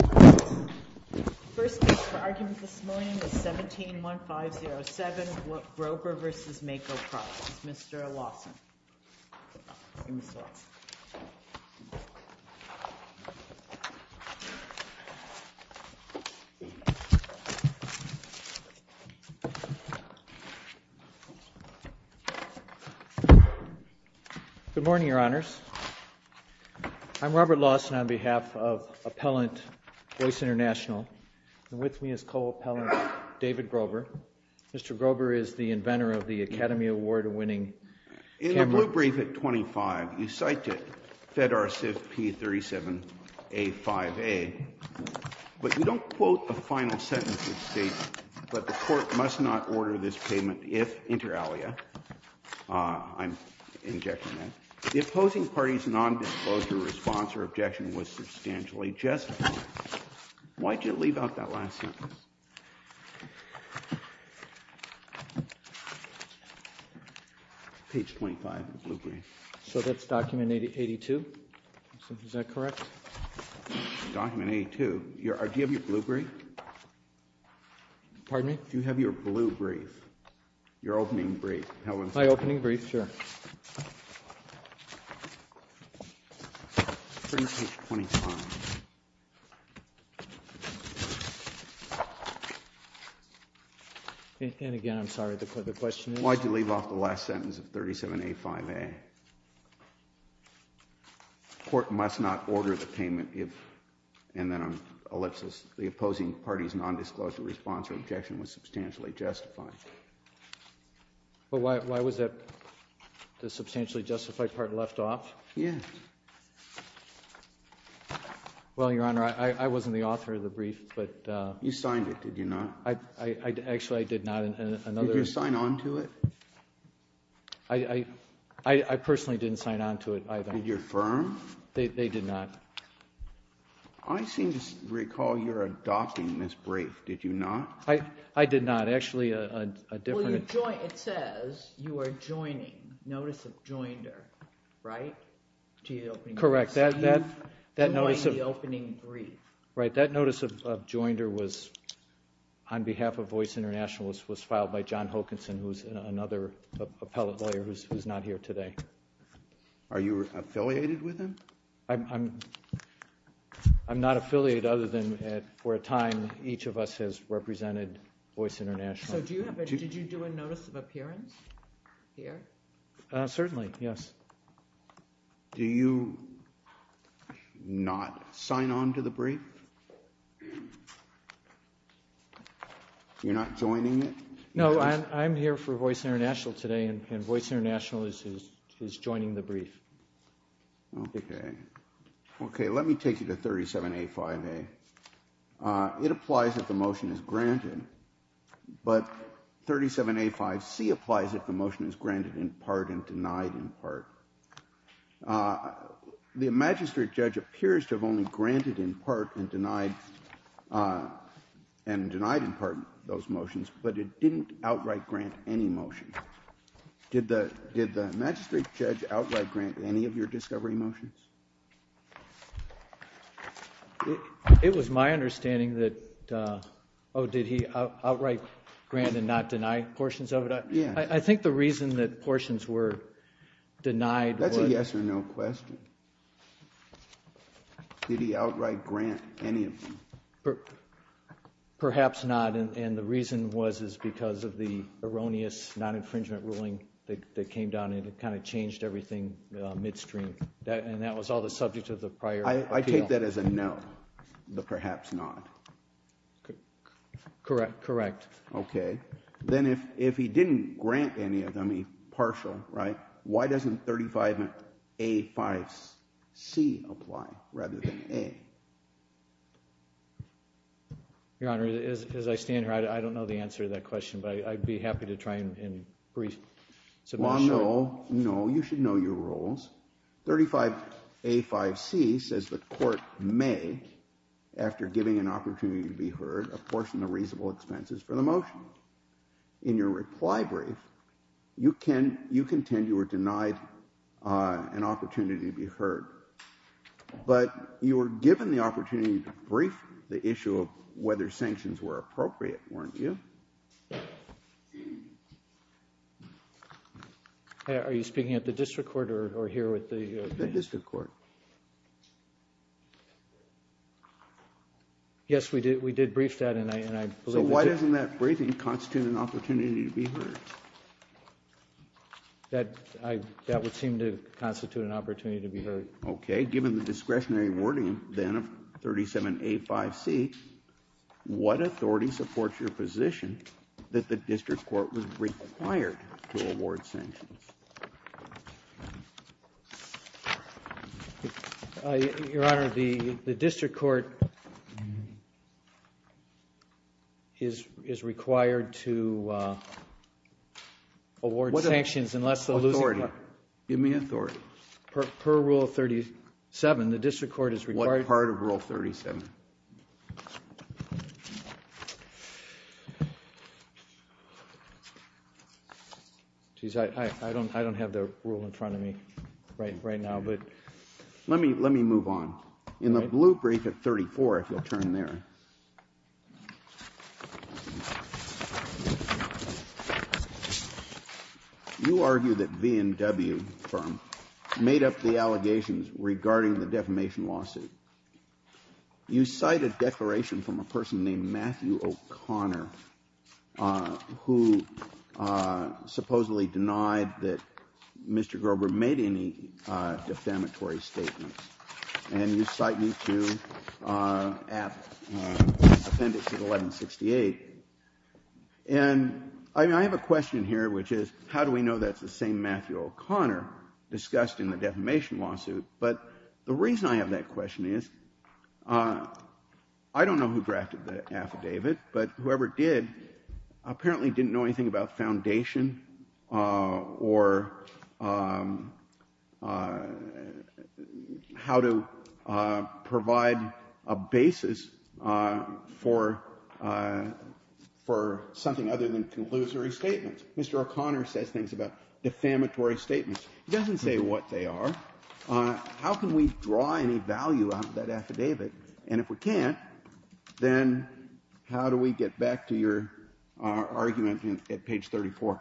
The first case for argument this morning is 17-1507, Grober v. Mako Products, Mr. Lawson. Good morning, Your Honors. I'm Robert Lawson on behalf of Appellant Voice International, and with me is Co-Appellant David Grober. Mr. Grober is the inventor of the Academy Award-winning cameras. In the blue brief at 25, you cite FedRSIVP37A5A, but you don't quote the final sentence. It states, but the court must not order this payment if, inter alia, I'm injecting that, the opposing party's nondisclosure response or objection was substantially justified. Why did you leave out that last sentence? Page 25 of the blue brief. So that's document 82? Is that correct? Document 82. Do you have your blue brief? Pardon me? Do you have your blue brief? Your opening brief. My opening brief, sure. Print page 25. And again, I'm sorry, the question is? Why did you leave off the last sentence of 37A5A? The court must not order the payment if, and then I'm ellipsis, the opposing party's nondisclosure response or objection was substantially justified. But why was the substantially justified part left off? Yes. Well, Your Honor, I wasn't the author of the brief, but. You signed it, did you not? Actually, I did not. Did you sign on to it? I personally didn't sign on to it either. Did your firm? They did not. I seem to recall you're adopting this brief, did you not? I did not. Actually, a different. Well, it says you are joining, notice of joinder, right? Correct. That notice of. You joined the opening brief. Right, that notice of joinder was, on behalf of Voice International, was filed by John Hokanson, who's another appellate lawyer who's not here today. Are you affiliated with him? I'm not affiliated other than for a time, each of us has represented Voice International. So do you have a, did you do a notice of appearance here? Certainly, yes. Do you not sign on to the brief? You're not joining it? No, I'm here for Voice International today and Voice International is joining the brief. Okay. Okay, let me take you to 37A5A. It applies that the motion is granted, but 37A5C applies that the motion is granted in part and denied in part. The magistrate judge appears to have only granted in part and denied in part those motions, but it didn't outright grant any motion. Did the magistrate judge outright grant any of your discovery motions? It was my understanding that, oh, did he outright grant and not deny portions of it? Yes. I think the reason that portions were denied was. That's a yes or no question. Did he outright grant any of them? Perhaps not, and the reason was because of the erroneous non-infringement ruling that came down and kind of changed everything midstream, and that was all the subject of the prior appeal. I take that as a no, the perhaps not. Correct, correct. Okay. Then if he didn't grant any of them, he partial, right, why doesn't 35A5C apply rather than A? Your Honor, as I stand here, I don't know the answer to that question, but I'd be happy to try and brief. Well, no, no, you should know your rules. 35A5C says the court may, after giving an opportunity to be heard, apportion the reasonable expenses for the motion. In your reply brief, you contend you were denied an opportunity to be heard, but you were given the opportunity to brief the issue of whether sanctions were appropriate, weren't you? Are you speaking at the district court or here with the? The district court. Yes, we did brief that, and I believe. So why doesn't that briefing constitute an opportunity to be heard? That would seem to constitute an opportunity to be heard. Okay, given the discretionary wording then of 37A5C, what authority supports your position that the district court was required to award sanctions? Your Honor, the district court is required to award sanctions unless the losing party. What authority? Give me authority. Per Rule 37, the district court is required. What part of Rule 37? I don't have the rule in front of me right now, but. Let me move on. In the blue brief at 34, if you'll turn there, you argue that V&W firm made up the allegations regarding the defamation lawsuit. You cite a declaration from a person named Matthew O'Connor, who supposedly denied that Mr. Grober made any defamatory statements, and you cite me to appendix at 1168. And I have a question here, which is how do we know that's the same Matthew O'Connor discussed in the defamation lawsuit? But the reason I have that question is I don't know who drafted the affidavit, but whoever did apparently didn't know anything about foundation or how to provide a basis for something other than conclusory statements. Mr. O'Connor says things about defamatory statements. He doesn't say what they are. How can we draw any value out of that affidavit? And if we can't, then how do we get back to your argument at page 34?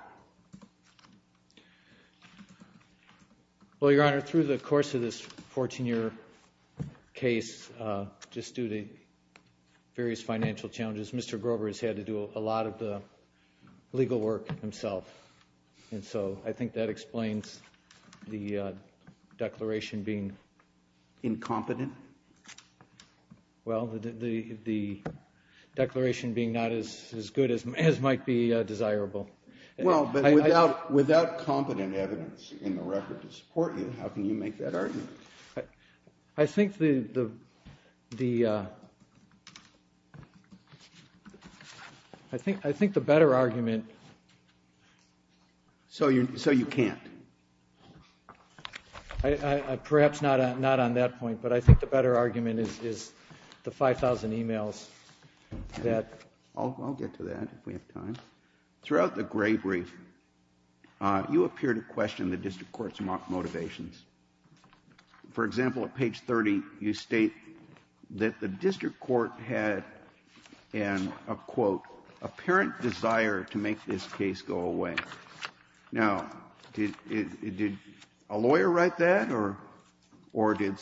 Well, Your Honor, through the course of this 14-year case, just due to various financial challenges, Mr. Grober has had to do a lot of the legal work himself. And so I think that explains the declaration being incompetent. Well, the declaration being not as good as might be desirable. Well, but without competent evidence in the record to support you, how can you make that argument? I think the better argument... So you can't? Perhaps not on that point, but I think the better argument is the 5,000 emails that... I'll get to that if we have time. Throughout the gray brief, you appear to question the district court's motivations. For example, at page 30, you state that the district court had an, quote, apparent desire to make this case go away. Now, did a lawyer write that or did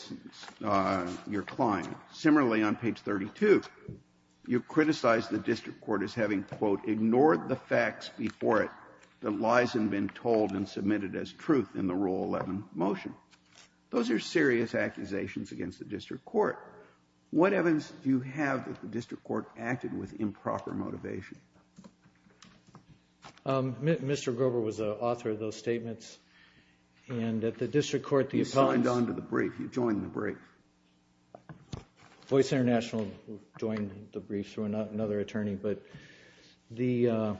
your client? Similarly, on page 32, you criticize the district court as having, quote, ignored the facts before it that lies had been told and submitted as truth in the Rule 11 motion. Those are serious accusations against the district court. What evidence do you have that the district court acted with improper motivation? Mr. Grober was the author of those statements. And at the district court, the appellants... You signed on to the brief. You joined the brief. Voice International joined the brief through another attorney. But the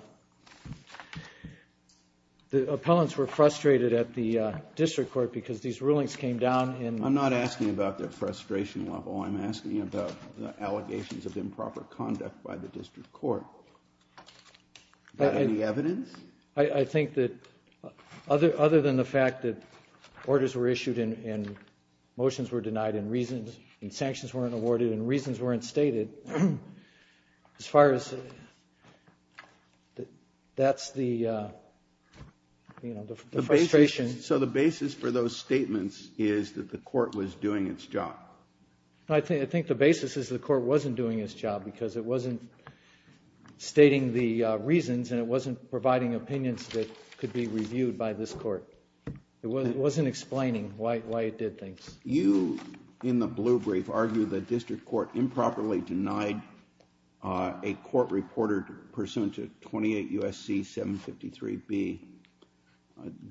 appellants were frustrated at the district court because these rulings came down in... I'm not asking about their frustration level. I'm asking about the allegations of improper conduct by the district court. Is that any evidence? I think that other than the fact that orders were issued and motions were denied and reasons, and sanctions weren't awarded and reasons weren't stated, as far as that's the frustration. So the basis for those statements is that the court was doing its job? I think the basis is the court wasn't doing its job because it wasn't stating the reasons and it wasn't providing opinions that could be reviewed by this court. It wasn't explaining why it did things. You, in the blue brief, argue the district court improperly denied a court reporter pursuant to 28 U.S.C. 753b.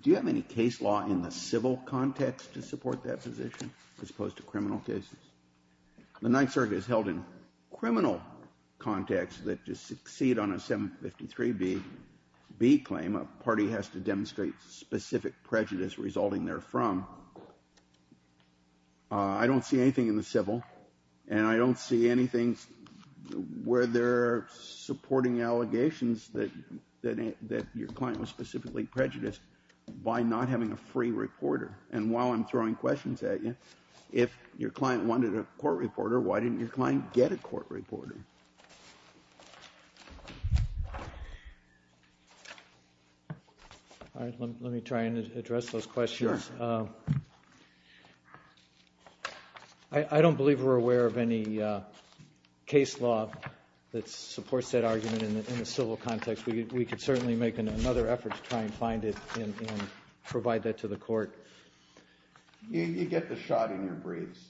Do you have any case law in the civil context to support that position as opposed to criminal cases? The Ninth Circuit has held in criminal context that to succeed on a 753b claim, a party has to demonstrate specific prejudice resulting therefrom. I don't see anything in the civil, and I don't see anything where they're supporting allegations that your client was specifically prejudiced by not having a free reporter. And while I'm throwing questions at you, if your client wanted a court reporter, why didn't your client get a court reporter? All right. Let me try and address those questions. Sure. I don't believe we're aware of any case law that supports that argument in the civil context. We could certainly make another effort to try and find it and provide that to the court. You get the shot in your briefs.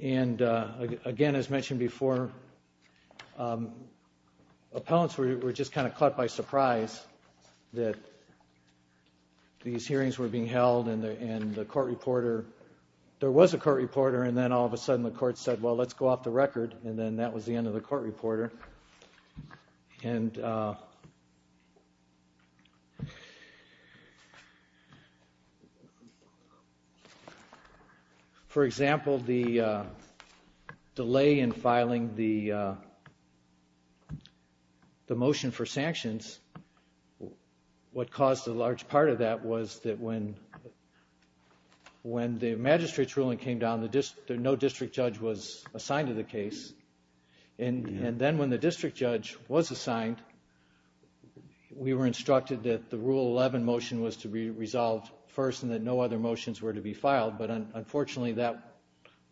And again, as mentioned before, appellants were just kind of caught by surprise that these hearings were being held and the court reporter, there was a court reporter, and then all of a sudden the court said, well, let's go off the record, and then that was the end of the court reporter. And for example, the delay in filing the motion for sanctions, what caused a large part of that was that when the magistrate's ruling came down, no district judge was assigned to the case. And then when the district judge was assigned, we were instructed that the Rule 11 motion was to be resolved first and that no other motions were to be filed. But unfortunately, that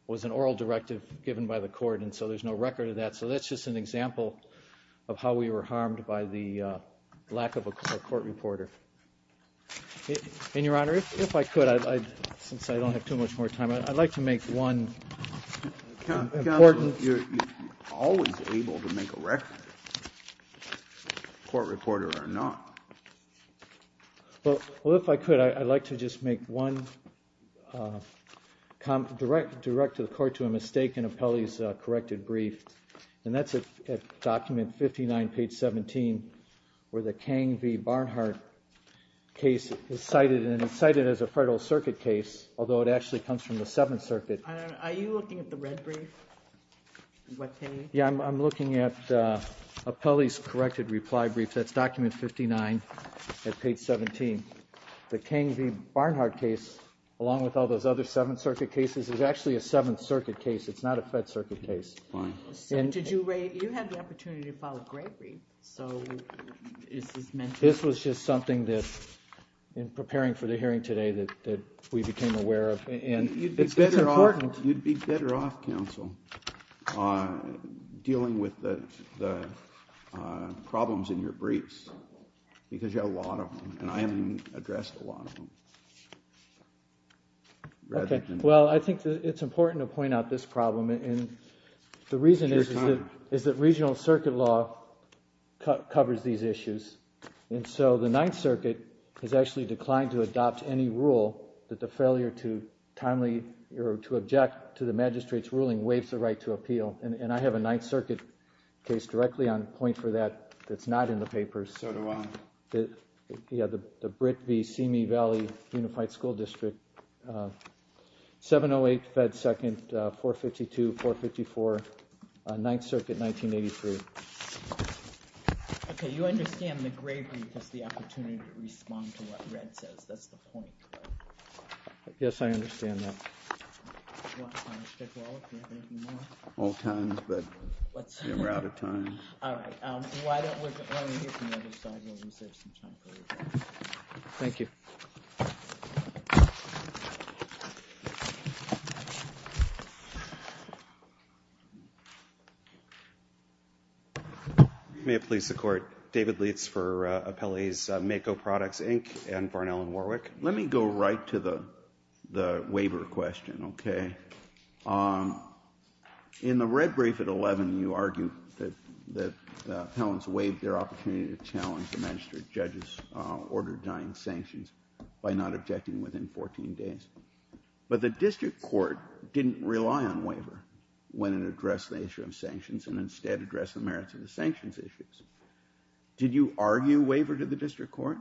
was an oral directive given by the court, and so there's no record of that. So that's just an example of how we were harmed by the lack of a court reporter. And, Your Honor, if I could, since I don't have too much more time, I'd like to make one important Counsel, you're always able to make a record, court reporter or not. Well, if I could, I'd like to just make one direct to the court to a mistake in Apelli's corrected brief, and that's at document 59, page 17, where the Kang v. Barnhart case is cited, and it's cited as a Federal Circuit case, although it actually comes from the Seventh Circuit. Are you looking at the red brief? Yeah, I'm looking at Apelli's corrected reply brief. That's document 59 at page 17. The Kang v. Barnhart case, along with all those other Seventh Circuit cases, is actually a Seventh Circuit case. It's not a Fed Circuit case. Fine. So did you have the opportunity to follow Gregory? So is this meant to be? This was just something that, in preparing for the hearing today, that we became aware of, and it's important. You'd be better off, Counsel, dealing with the problems in your briefs, because you have a lot of them, and I haven't even addressed a lot of them. Well, I think it's important to point out this problem. The reason is that regional circuit law covers these issues, and so the Ninth Circuit has actually declined to adopt any rule that the failure to timely or to object to the magistrate's ruling waives the right to appeal, and I have a Ninth Circuit case directly on point for that that's not in the papers. So do I. Yeah, the Britt v. Simi Valley Unified School District, 708 Fed 2nd, 452-454, Ninth Circuit, 1983. Okay, you understand that Gregory gets the opportunity to respond to what Red says. That's the point. Yes, I understand that. Do you want to speak at all if you have anything more? All times, but we're out of time. All right. Why don't we get to the other side while we save some time. Thank you. May it please the Court. David Leitz for Appellees MAKO Products, Inc. and Barnell & Warwick. Let me go right to the waiver question, okay? In the red brief at 11, you argue that the appellants waived their opportunity to challenge the magistrate judge's order denying sanctions by not objecting within 14 days. But the district court didn't rely on waiver when it addressed the issue of sanctions and instead addressed the merits of the sanctions issues. Did you argue waiver to the district court?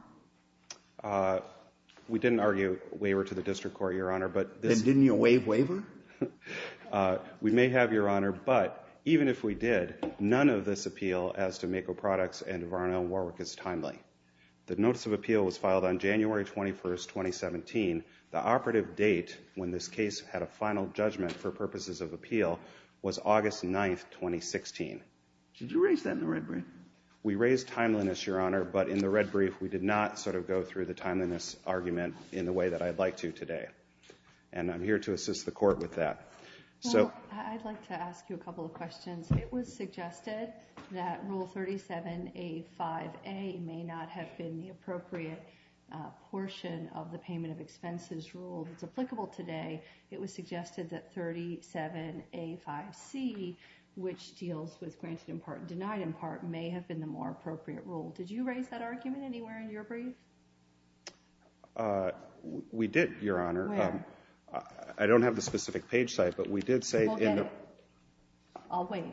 We didn't argue waiver to the district court, Your Honor. Then didn't you waive waiver? We may have, Your Honor. But even if we did, none of this appeal as to MAKO Products and Barnell & Warwick is timely. The notice of appeal was filed on January 21, 2017. The operative date when this case had a final judgment for purposes of appeal was August 9, 2016. Did you raise that in the red brief? We raised timeliness, Your Honor, but in the red brief, we did not sort of go through the timeliness argument in the way that I'd like to today. And I'm here to assist the court with that. Well, I'd like to ask you a couple of questions. It was suggested that Rule 37A5A may not have been the appropriate portion of the payment of expenses rule that's applicable today. It was suggested that 37A5C, which deals with granted in part and denied in part, may have been the more appropriate rule. Did you raise that argument anywhere in your brief? We did, Your Honor. Where? I don't have the specific page site, but we did say in the— Well, get it. I'll wait.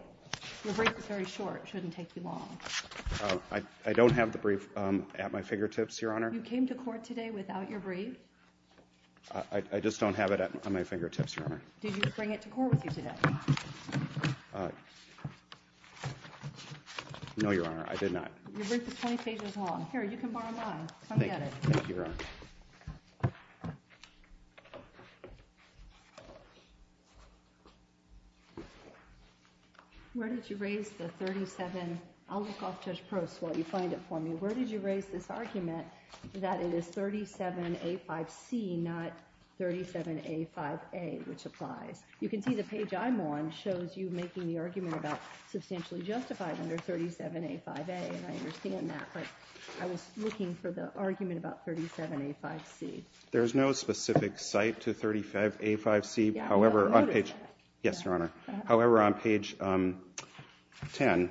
Your brief is very short. It shouldn't take you long. I don't have the brief at my fingertips, Your Honor. You came to court today without your brief? I just don't have it at my fingertips, Your Honor. Did you bring it to court with you today? No, Your Honor, I did not. Your brief is 20 pages long. Here, you can borrow mine. Come get it. Thank you, Your Honor. Where did you raise the 37—I'll look off Judge Prost while you find it for me. Where did you raise this argument that it is 37A5C, not 37A5A, which applies? You can see the page I'm on shows you making the argument about substantially justified under 37A5A, and I understand that, but I was looking for the argument about 37A5C. There's no specific site to 35A5C. Yes, Your Honor. However, on page 10,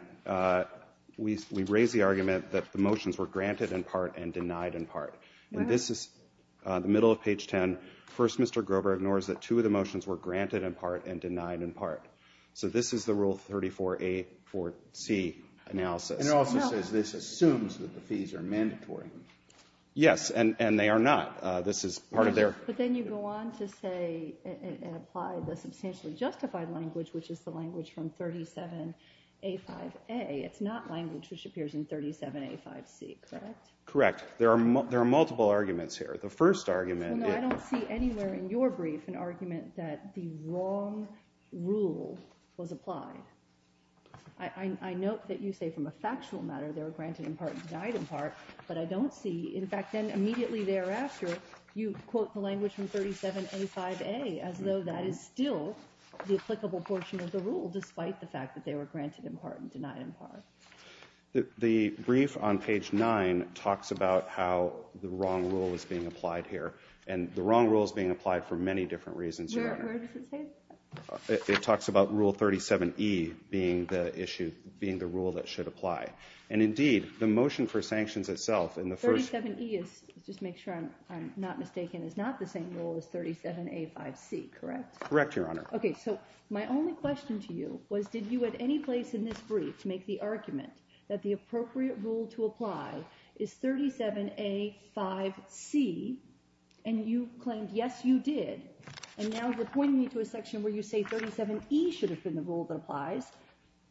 we raise the argument that the motions were granted in part and denied in part. And this is the middle of page 10. First, Mr. Grover ignores that two of the motions were granted in part and denied in part. So this is the Rule 34A4C analysis. And it also says this assumes that the fees are mandatory. Yes, and they are not. This is part of their— But then you go on to say and apply the substantially justified language, which is the language from 37A5A. It's not language which appears in 37A5C, correct? Correct. There are multiple arguments here. The first argument— Well, no, I don't see anywhere in your brief an argument that the wrong rule was applied. I note that you say from a factual matter they were granted in part and denied in part, but I don't see— In fact, then immediately thereafter, you quote the language from 37A5A as though that is still the applicable portion of the rule, despite the fact that they were granted in part and denied in part. The brief on page 9 talks about how the wrong rule is being applied here. And the wrong rule is being applied for many different reasons, Your Honor. Where does it say that? It talks about Rule 37E being the rule that should apply. And indeed, the motion for sanctions itself in the first— 37E, just to make sure I'm not mistaken, is not the same rule as 37A5C, correct? Correct, Your Honor. Okay, so my only question to you was did you at any place in this brief make the argument that the appropriate rule to apply is 37A5C, and you claimed yes, you did, and now you're pointing me to a section where you say 37E should have been the rule that applies.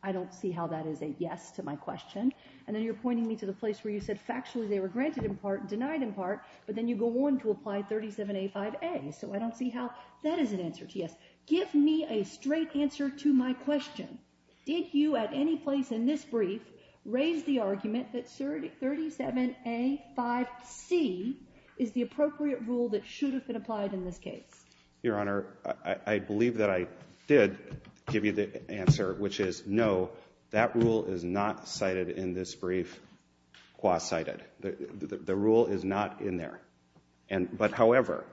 I don't see how that is a yes to my question. And then you're pointing me to the place where you said factually they were granted in part and denied in part, but then you go on to apply 37A5A, so I don't see how that is an answer to yes. Give me a straight answer to my question. Did you at any place in this brief raise the argument that 37A5C is the appropriate rule that should have been applied in this case? Your Honor, I believe that I did give you the answer, which is no, that rule is not cited in this brief, qua cited. The rule is not in there. But however,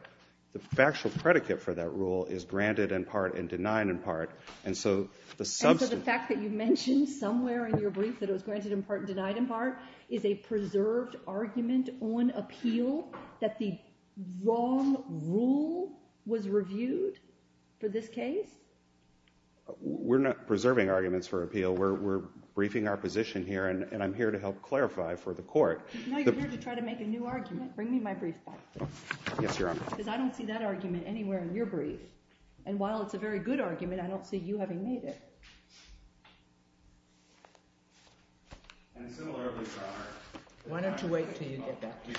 the factual predicate for that rule is granted in part and denied in part, and so the fact that you mentioned somewhere in your brief that it was granted in part and denied in part is a preserved argument on appeal that the wrong rule was reviewed for this case? We're not preserving arguments for appeal. We're briefing our position here, and I'm here to help clarify for the court. No, you're here to try to make a new argument. Bring me my brief back. Yes, Your Honor. Because I don't see that argument anywhere in your brief, and while it's a very good argument, I don't see you having made it. And similarly, Your Honor. Why don't you wait until you get back to me?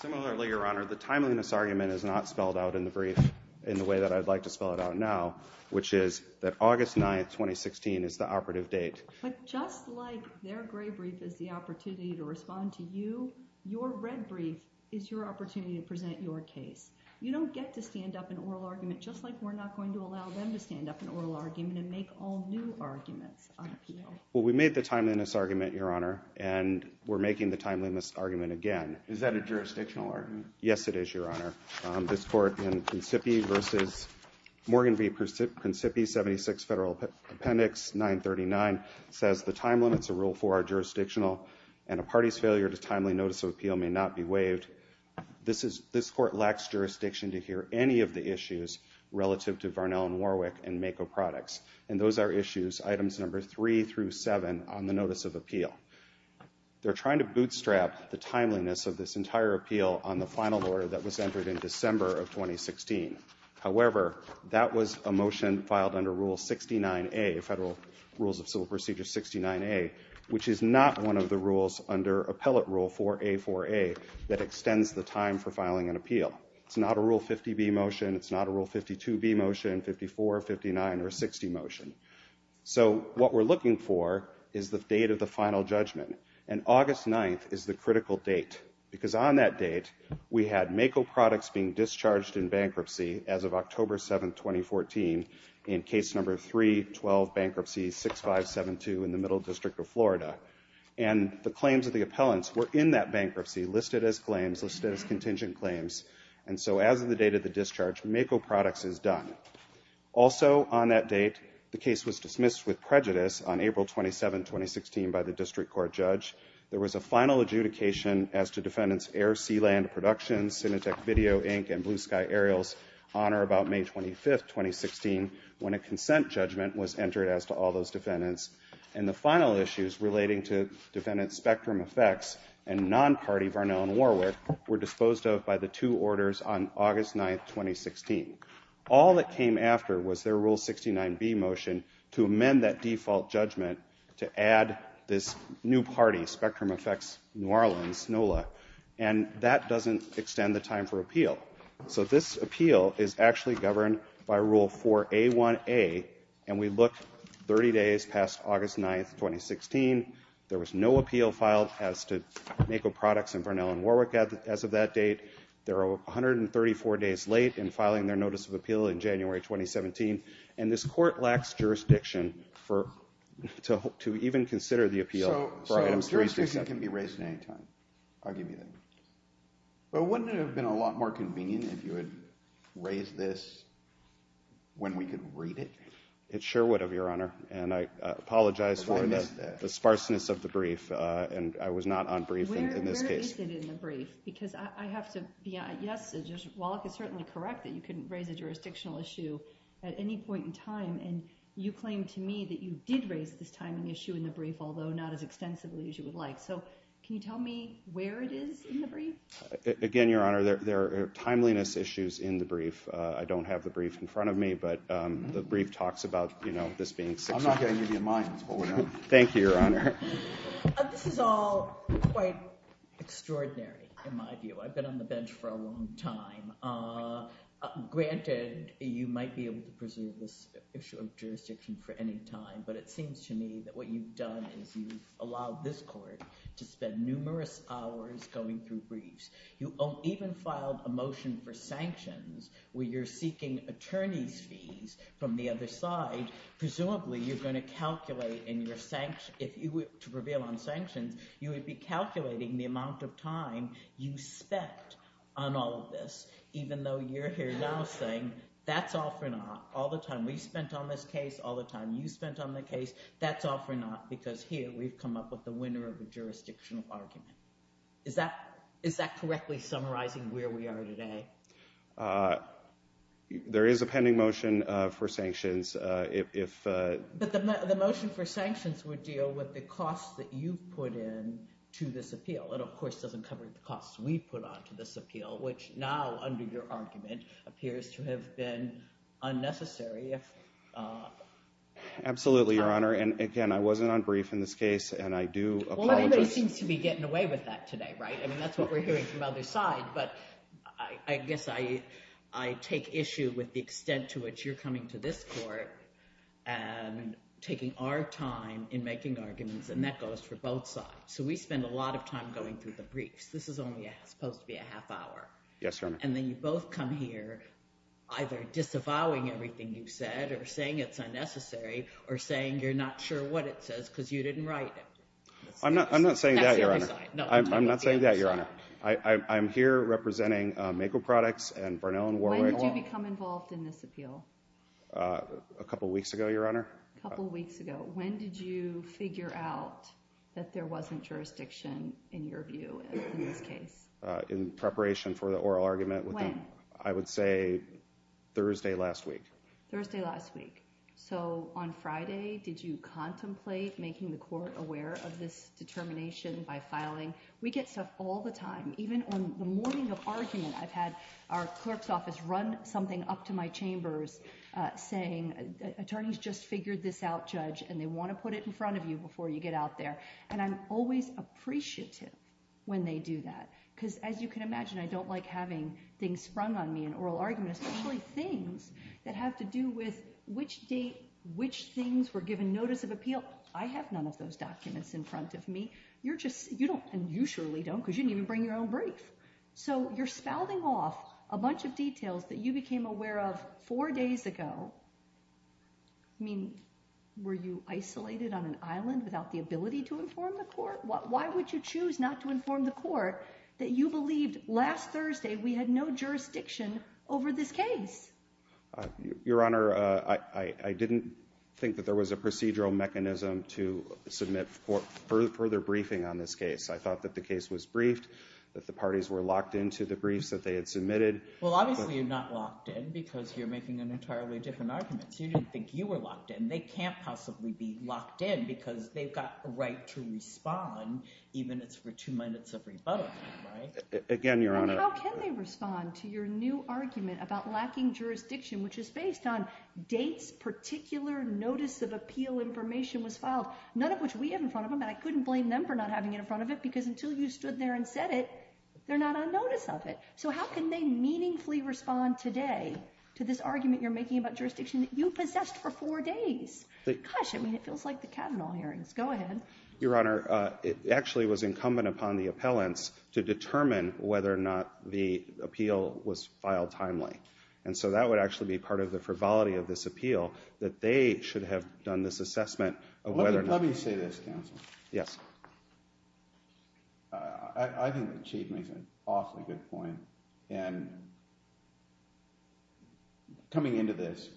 Similarly, Your Honor, the timeliness argument is not spelled out in the brief in the way that I'd like to spell it out now, which is that August 9, 2016 is the operative date. But just like their gray brief is the opportunity to respond to you, your red brief is your opportunity to present your case. You don't get to stand up an oral argument just like we're not going to allow them to stand up an oral argument and make all new arguments on appeal. Well, we made the timeliness argument, Your Honor, and we're making the timeliness argument again. Is that a jurisdictional argument? Yes, it is, Your Honor. This court in Consipi v. Morgan v. Consipi, 76 Federal Appendix 939, says the time limits of Rule 4 are jurisdictional and a party's failure to timely notice of appeal may not be waived. This court lacks jurisdiction to hear any of the issues relative to Varnell and Warwick and Mako products, and those are issues items number 3 through 7 on the notice of appeal. They're trying to bootstrap the timeliness of this entire appeal on the final order that was entered in December of 2016. However, that was a motion filed under Rule 69A, Federal Rules of Civil Procedure 69A, which is not one of the rules under Appellate Rule 4A4A that extends the time for filing an appeal. It's not a Rule 50B motion. It's not a Rule 52B motion, 54, 59, or 60 motion. So what we're looking for is the date of the final judgment, and August 9th is the critical date, because on that date, we had Mako products being discharged in bankruptcy as of October 7, 2014, in case number 312, Bankruptcy 6572 in the Middle District of Florida. And the claims of the appellants were in that bankruptcy listed as claims, listed as contingent claims. And so as of the date of the discharge, Mako products is done. Also on that date, the case was dismissed with prejudice on April 27, 2016, by the district court judge. There was a final adjudication as to defendants Air Sealand Productions, Cinetech Video, Inc., and Blue Sky Aerials Honor about May 25, 2016, when a consent judgment was entered as to all those defendants. And the final issues relating to defendants Spectrum Effects and non-party Vernell & Warwick were disposed of by the two orders on August 9, 2016. All that came after was their Rule 69B motion to amend that default judgment to add this new party, Spectrum Effects New Orleans, NOLA. And that doesn't extend the time for appeal. So this appeal is actually governed by Rule 4A1A, and we look 30 days past August 9, 2016. There was no appeal filed as to Mako products and Vernell & Warwick as of that date. They're 134 days late in filing their notice of appeal in January 2017, and this court lacks jurisdiction to even consider the appeal. So jurisdiction can be raised at any time. I'll give you that. But wouldn't it have been a lot more convenient if you had raised this when we could read it? It sure would have, Your Honor, and I apologize for the sparseness of the brief, and I was not on brief in this case. But you raised it in the brief, because I have to be—yes, Warwick is certainly correct that you couldn't raise a jurisdictional issue at any point in time, and you claimed to me that you did raise this timing issue in the brief, although not as extensively as you would like. So can you tell me where it is in the brief? Again, Your Honor, there are timeliness issues in the brief. I don't have the brief in front of me, but the brief talks about, you know, this being six weeks. I'm not going to give you mine. Hold it down. Thank you, Your Honor. This is all quite extraordinary in my view. I've been on the bench for a long time. Granted, you might be able to preserve this issue of jurisdiction for any time, but it seems to me that what you've done is you've allowed this court to spend numerous hours going through briefs. You even filed a motion for sanctions where you're seeking attorney's fees from the other side. Presumably, you're going to calculate in your sanctions. If you were to prevail on sanctions, you would be calculating the amount of time you spent on all of this, even though you're here now saying that's all for naught. All the time we spent on this case, all the time you spent on the case, that's all for naught, because here we've come up with the winner of the jurisdictional argument. Is that correctly summarizing where we are today? There is a pending motion for sanctions. But the motion for sanctions would deal with the costs that you put in to this appeal. It, of course, doesn't cover the costs we put on to this appeal, which now under your argument appears to have been unnecessary. Absolutely, Your Honor. And again, I wasn't on brief in this case, and I do apologize. Well, everybody seems to be getting away with that today, right? I mean, that's what we're hearing from the other side. But I guess I take issue with the extent to which you're coming to this court and taking our time in making arguments, and that goes for both sides. So we spend a lot of time going through the briefs. This is only supposed to be a half hour. Yes, Your Honor. And then you both come here either disavowing everything you've said or saying it's unnecessary or saying you're not sure what it says because you didn't write it. I'm not saying that, Your Honor. I'm not saying that, Your Honor. I'm here representing Mako Products and Barnell & Warwick Law. When did you become involved in this appeal? A couple weeks ago, Your Honor. A couple weeks ago. When did you figure out that there wasn't jurisdiction, in your view, in this case? In preparation for the oral argument. When? I would say Thursday last week. Thursday last week. So on Friday, did you contemplate making the court aware of this determination by filing? We get stuff all the time. Even on the morning of argument, I've had our clerk's office run something up to my chambers saying attorneys just figured this out, Judge, and they want to put it in front of you before you get out there. And I'm always appreciative when they do that because, as you can imagine, I don't like having things sprung on me in oral arguments, things that have to do with which date, which things were given notice of appeal. I have none of those documents in front of me. You're just, you don't, and you surely don't because you didn't even bring your own brief. So you're spouting off a bunch of details that you became aware of four days ago. I mean, were you isolated on an island without the ability to inform the court? Why would you choose not to inform the court that you believed last Thursday we had no jurisdiction over this case? Your Honor, I didn't think that there was a procedural mechanism to submit further briefing on this case. I thought that the case was briefed, that the parties were locked into the briefs that they had submitted. Well, obviously you're not locked in because you're making an entirely different argument. You didn't think you were locked in. They can't possibly be locked in because they've got a right to respond, even if it's for two minutes of rebuttal, right? Again, Your Honor. And how can they respond to your new argument about lacking jurisdiction, which is based on dates, particular notice of appeal information was filed, none of which we have in front of them, and I couldn't blame them for not having it in front of them because until you stood there and said it, they're not on notice of it. So how can they meaningfully respond today to this argument you're making about jurisdiction that you possessed for four days? Gosh, I mean, it feels like the Kavanaugh hearings. Go ahead. Your Honor, it actually was incumbent upon the appellants to determine whether or not the appeal was filed timely. And so that would actually be part of the frivolity of this appeal, that they should have done this assessment of whether or not. Let me say this, counsel. Yes. I think the Chief makes an awfully good point. And coming into this,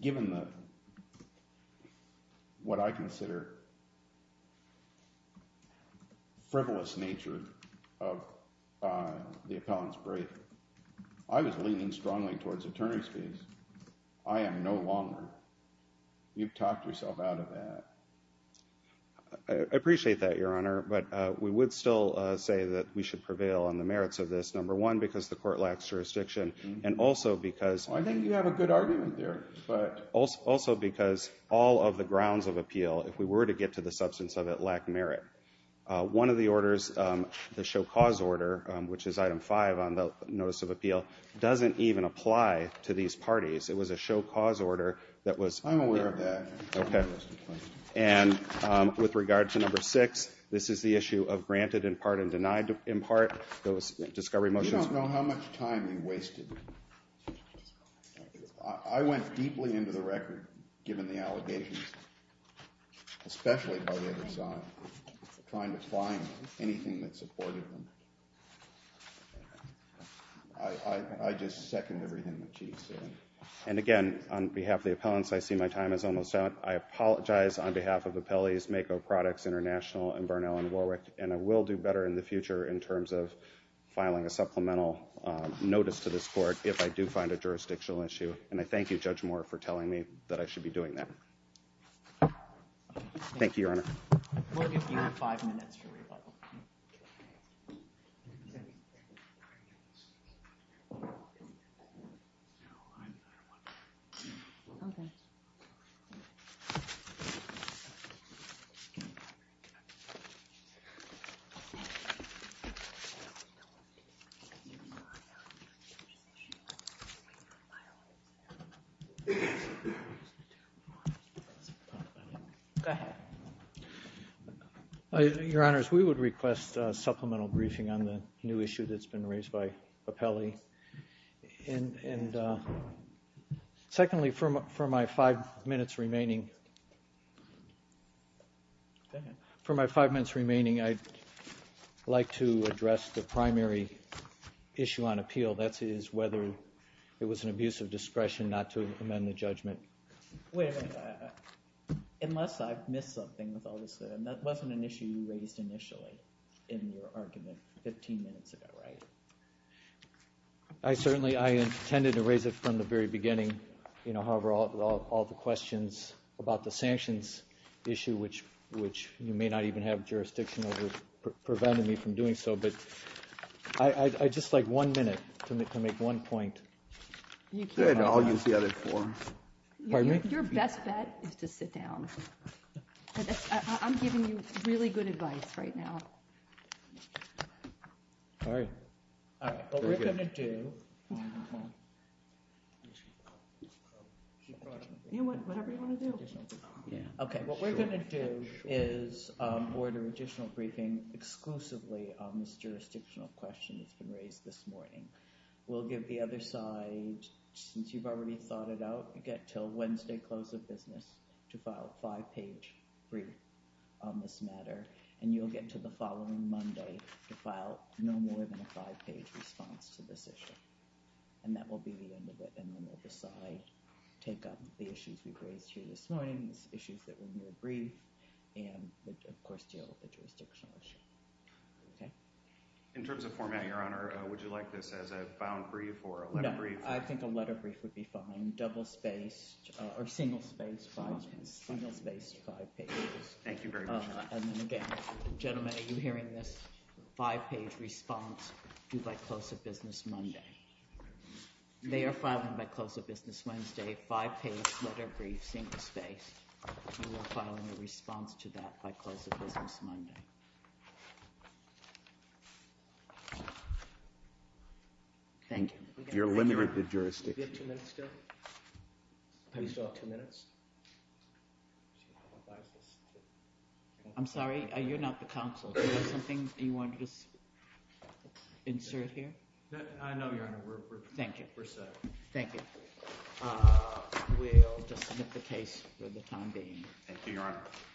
given what I consider frivolous nature of the appellant's brief, I was leaning strongly towards attorney's fees. I am no longer. You've talked yourself out of that. I appreciate that, Your Honor. But we would still say that we should prevail on the merits of this, number one, because the court lacks jurisdiction and also because. I think you have a good argument there. Also because all of the grounds of appeal, if we were to get to the substance of it, lack merit. One of the orders, the show cause order, which is item five on the notice of appeal, doesn't even apply to these parties. It was a show cause order that was. I'm aware of that. And with regard to number six, this is the issue of granted in part and denied in part. Those discovery motions. You don't know how much time you wasted. I went deeply into the record, given the allegations, especially by the other side, trying to find anything that supported them. I just second everything the Chief said. And again, on behalf of the appellants, I see my time is almost out. I apologize on behalf of the appellees, MAKO Products International and Barnell & Warwick. And I will do better in the future in terms of filing a supplemental notice to this court if I do find a jurisdictional issue. And I thank you, Judge Moore, for telling me that I should be doing that. Thank you, Your Honor. We'll give you five minutes for rebuttal. Okay. Go ahead. Your Honors, we would request a supplemental briefing on the new issue that's been raised by Appelli. And secondly, for my five minutes remaining, I'd like to address the primary issue on appeal. That is whether it was an abuse of discretion not to amend the judgment. Wait a minute. Unless I've missed something with all this. That wasn't an issue you raised initially in your argument 15 minutes ago, right? I certainly intended to raise it from the very beginning. However, all the questions about the sanctions issue, which you may not even have jurisdiction over, prevented me from doing so. But I'd just like one minute to make one point. I'll use the other four. Pardon me? Your best bet is to sit down. I'm giving you really good advice right now. All right. What we're going to do is order additional briefing exclusively on this jurisdictional question that's been raised this morning. We'll give the other side, since you've already thought it out, get until Wednesday close of business to file a five-page brief on this matter. And you'll get to the following Monday to file no more than a five-page response to this issue. And that will be the end of it. And then we'll decide, take up the issues we've raised here this morning, the issues that we need to brief, and, of course, deal with the jurisdictional issue. Okay? In terms of format, Your Honor, would you like this as a bound brief or a letter brief? No, I think a letter brief would be fine. Double-spaced or single-spaced five pages. Single-spaced five pages. Thank you very much, Your Honor. And then, again, gentlemen, are you hearing this five-page response due by close of business Monday? They are filing by close of business Wednesday, five-page letter brief, single-spaced. You are filing a response to that by close of business Monday. Thank you. You're limited to jurisdiction. Do we have two minutes still? Do we still have two minutes? I'm sorry. You're not the counsel. Do you have something you wanted to insert here? No, Your Honor. We're set. Thank you. We'll just submit the case for the time being. Thank you, Your Honor.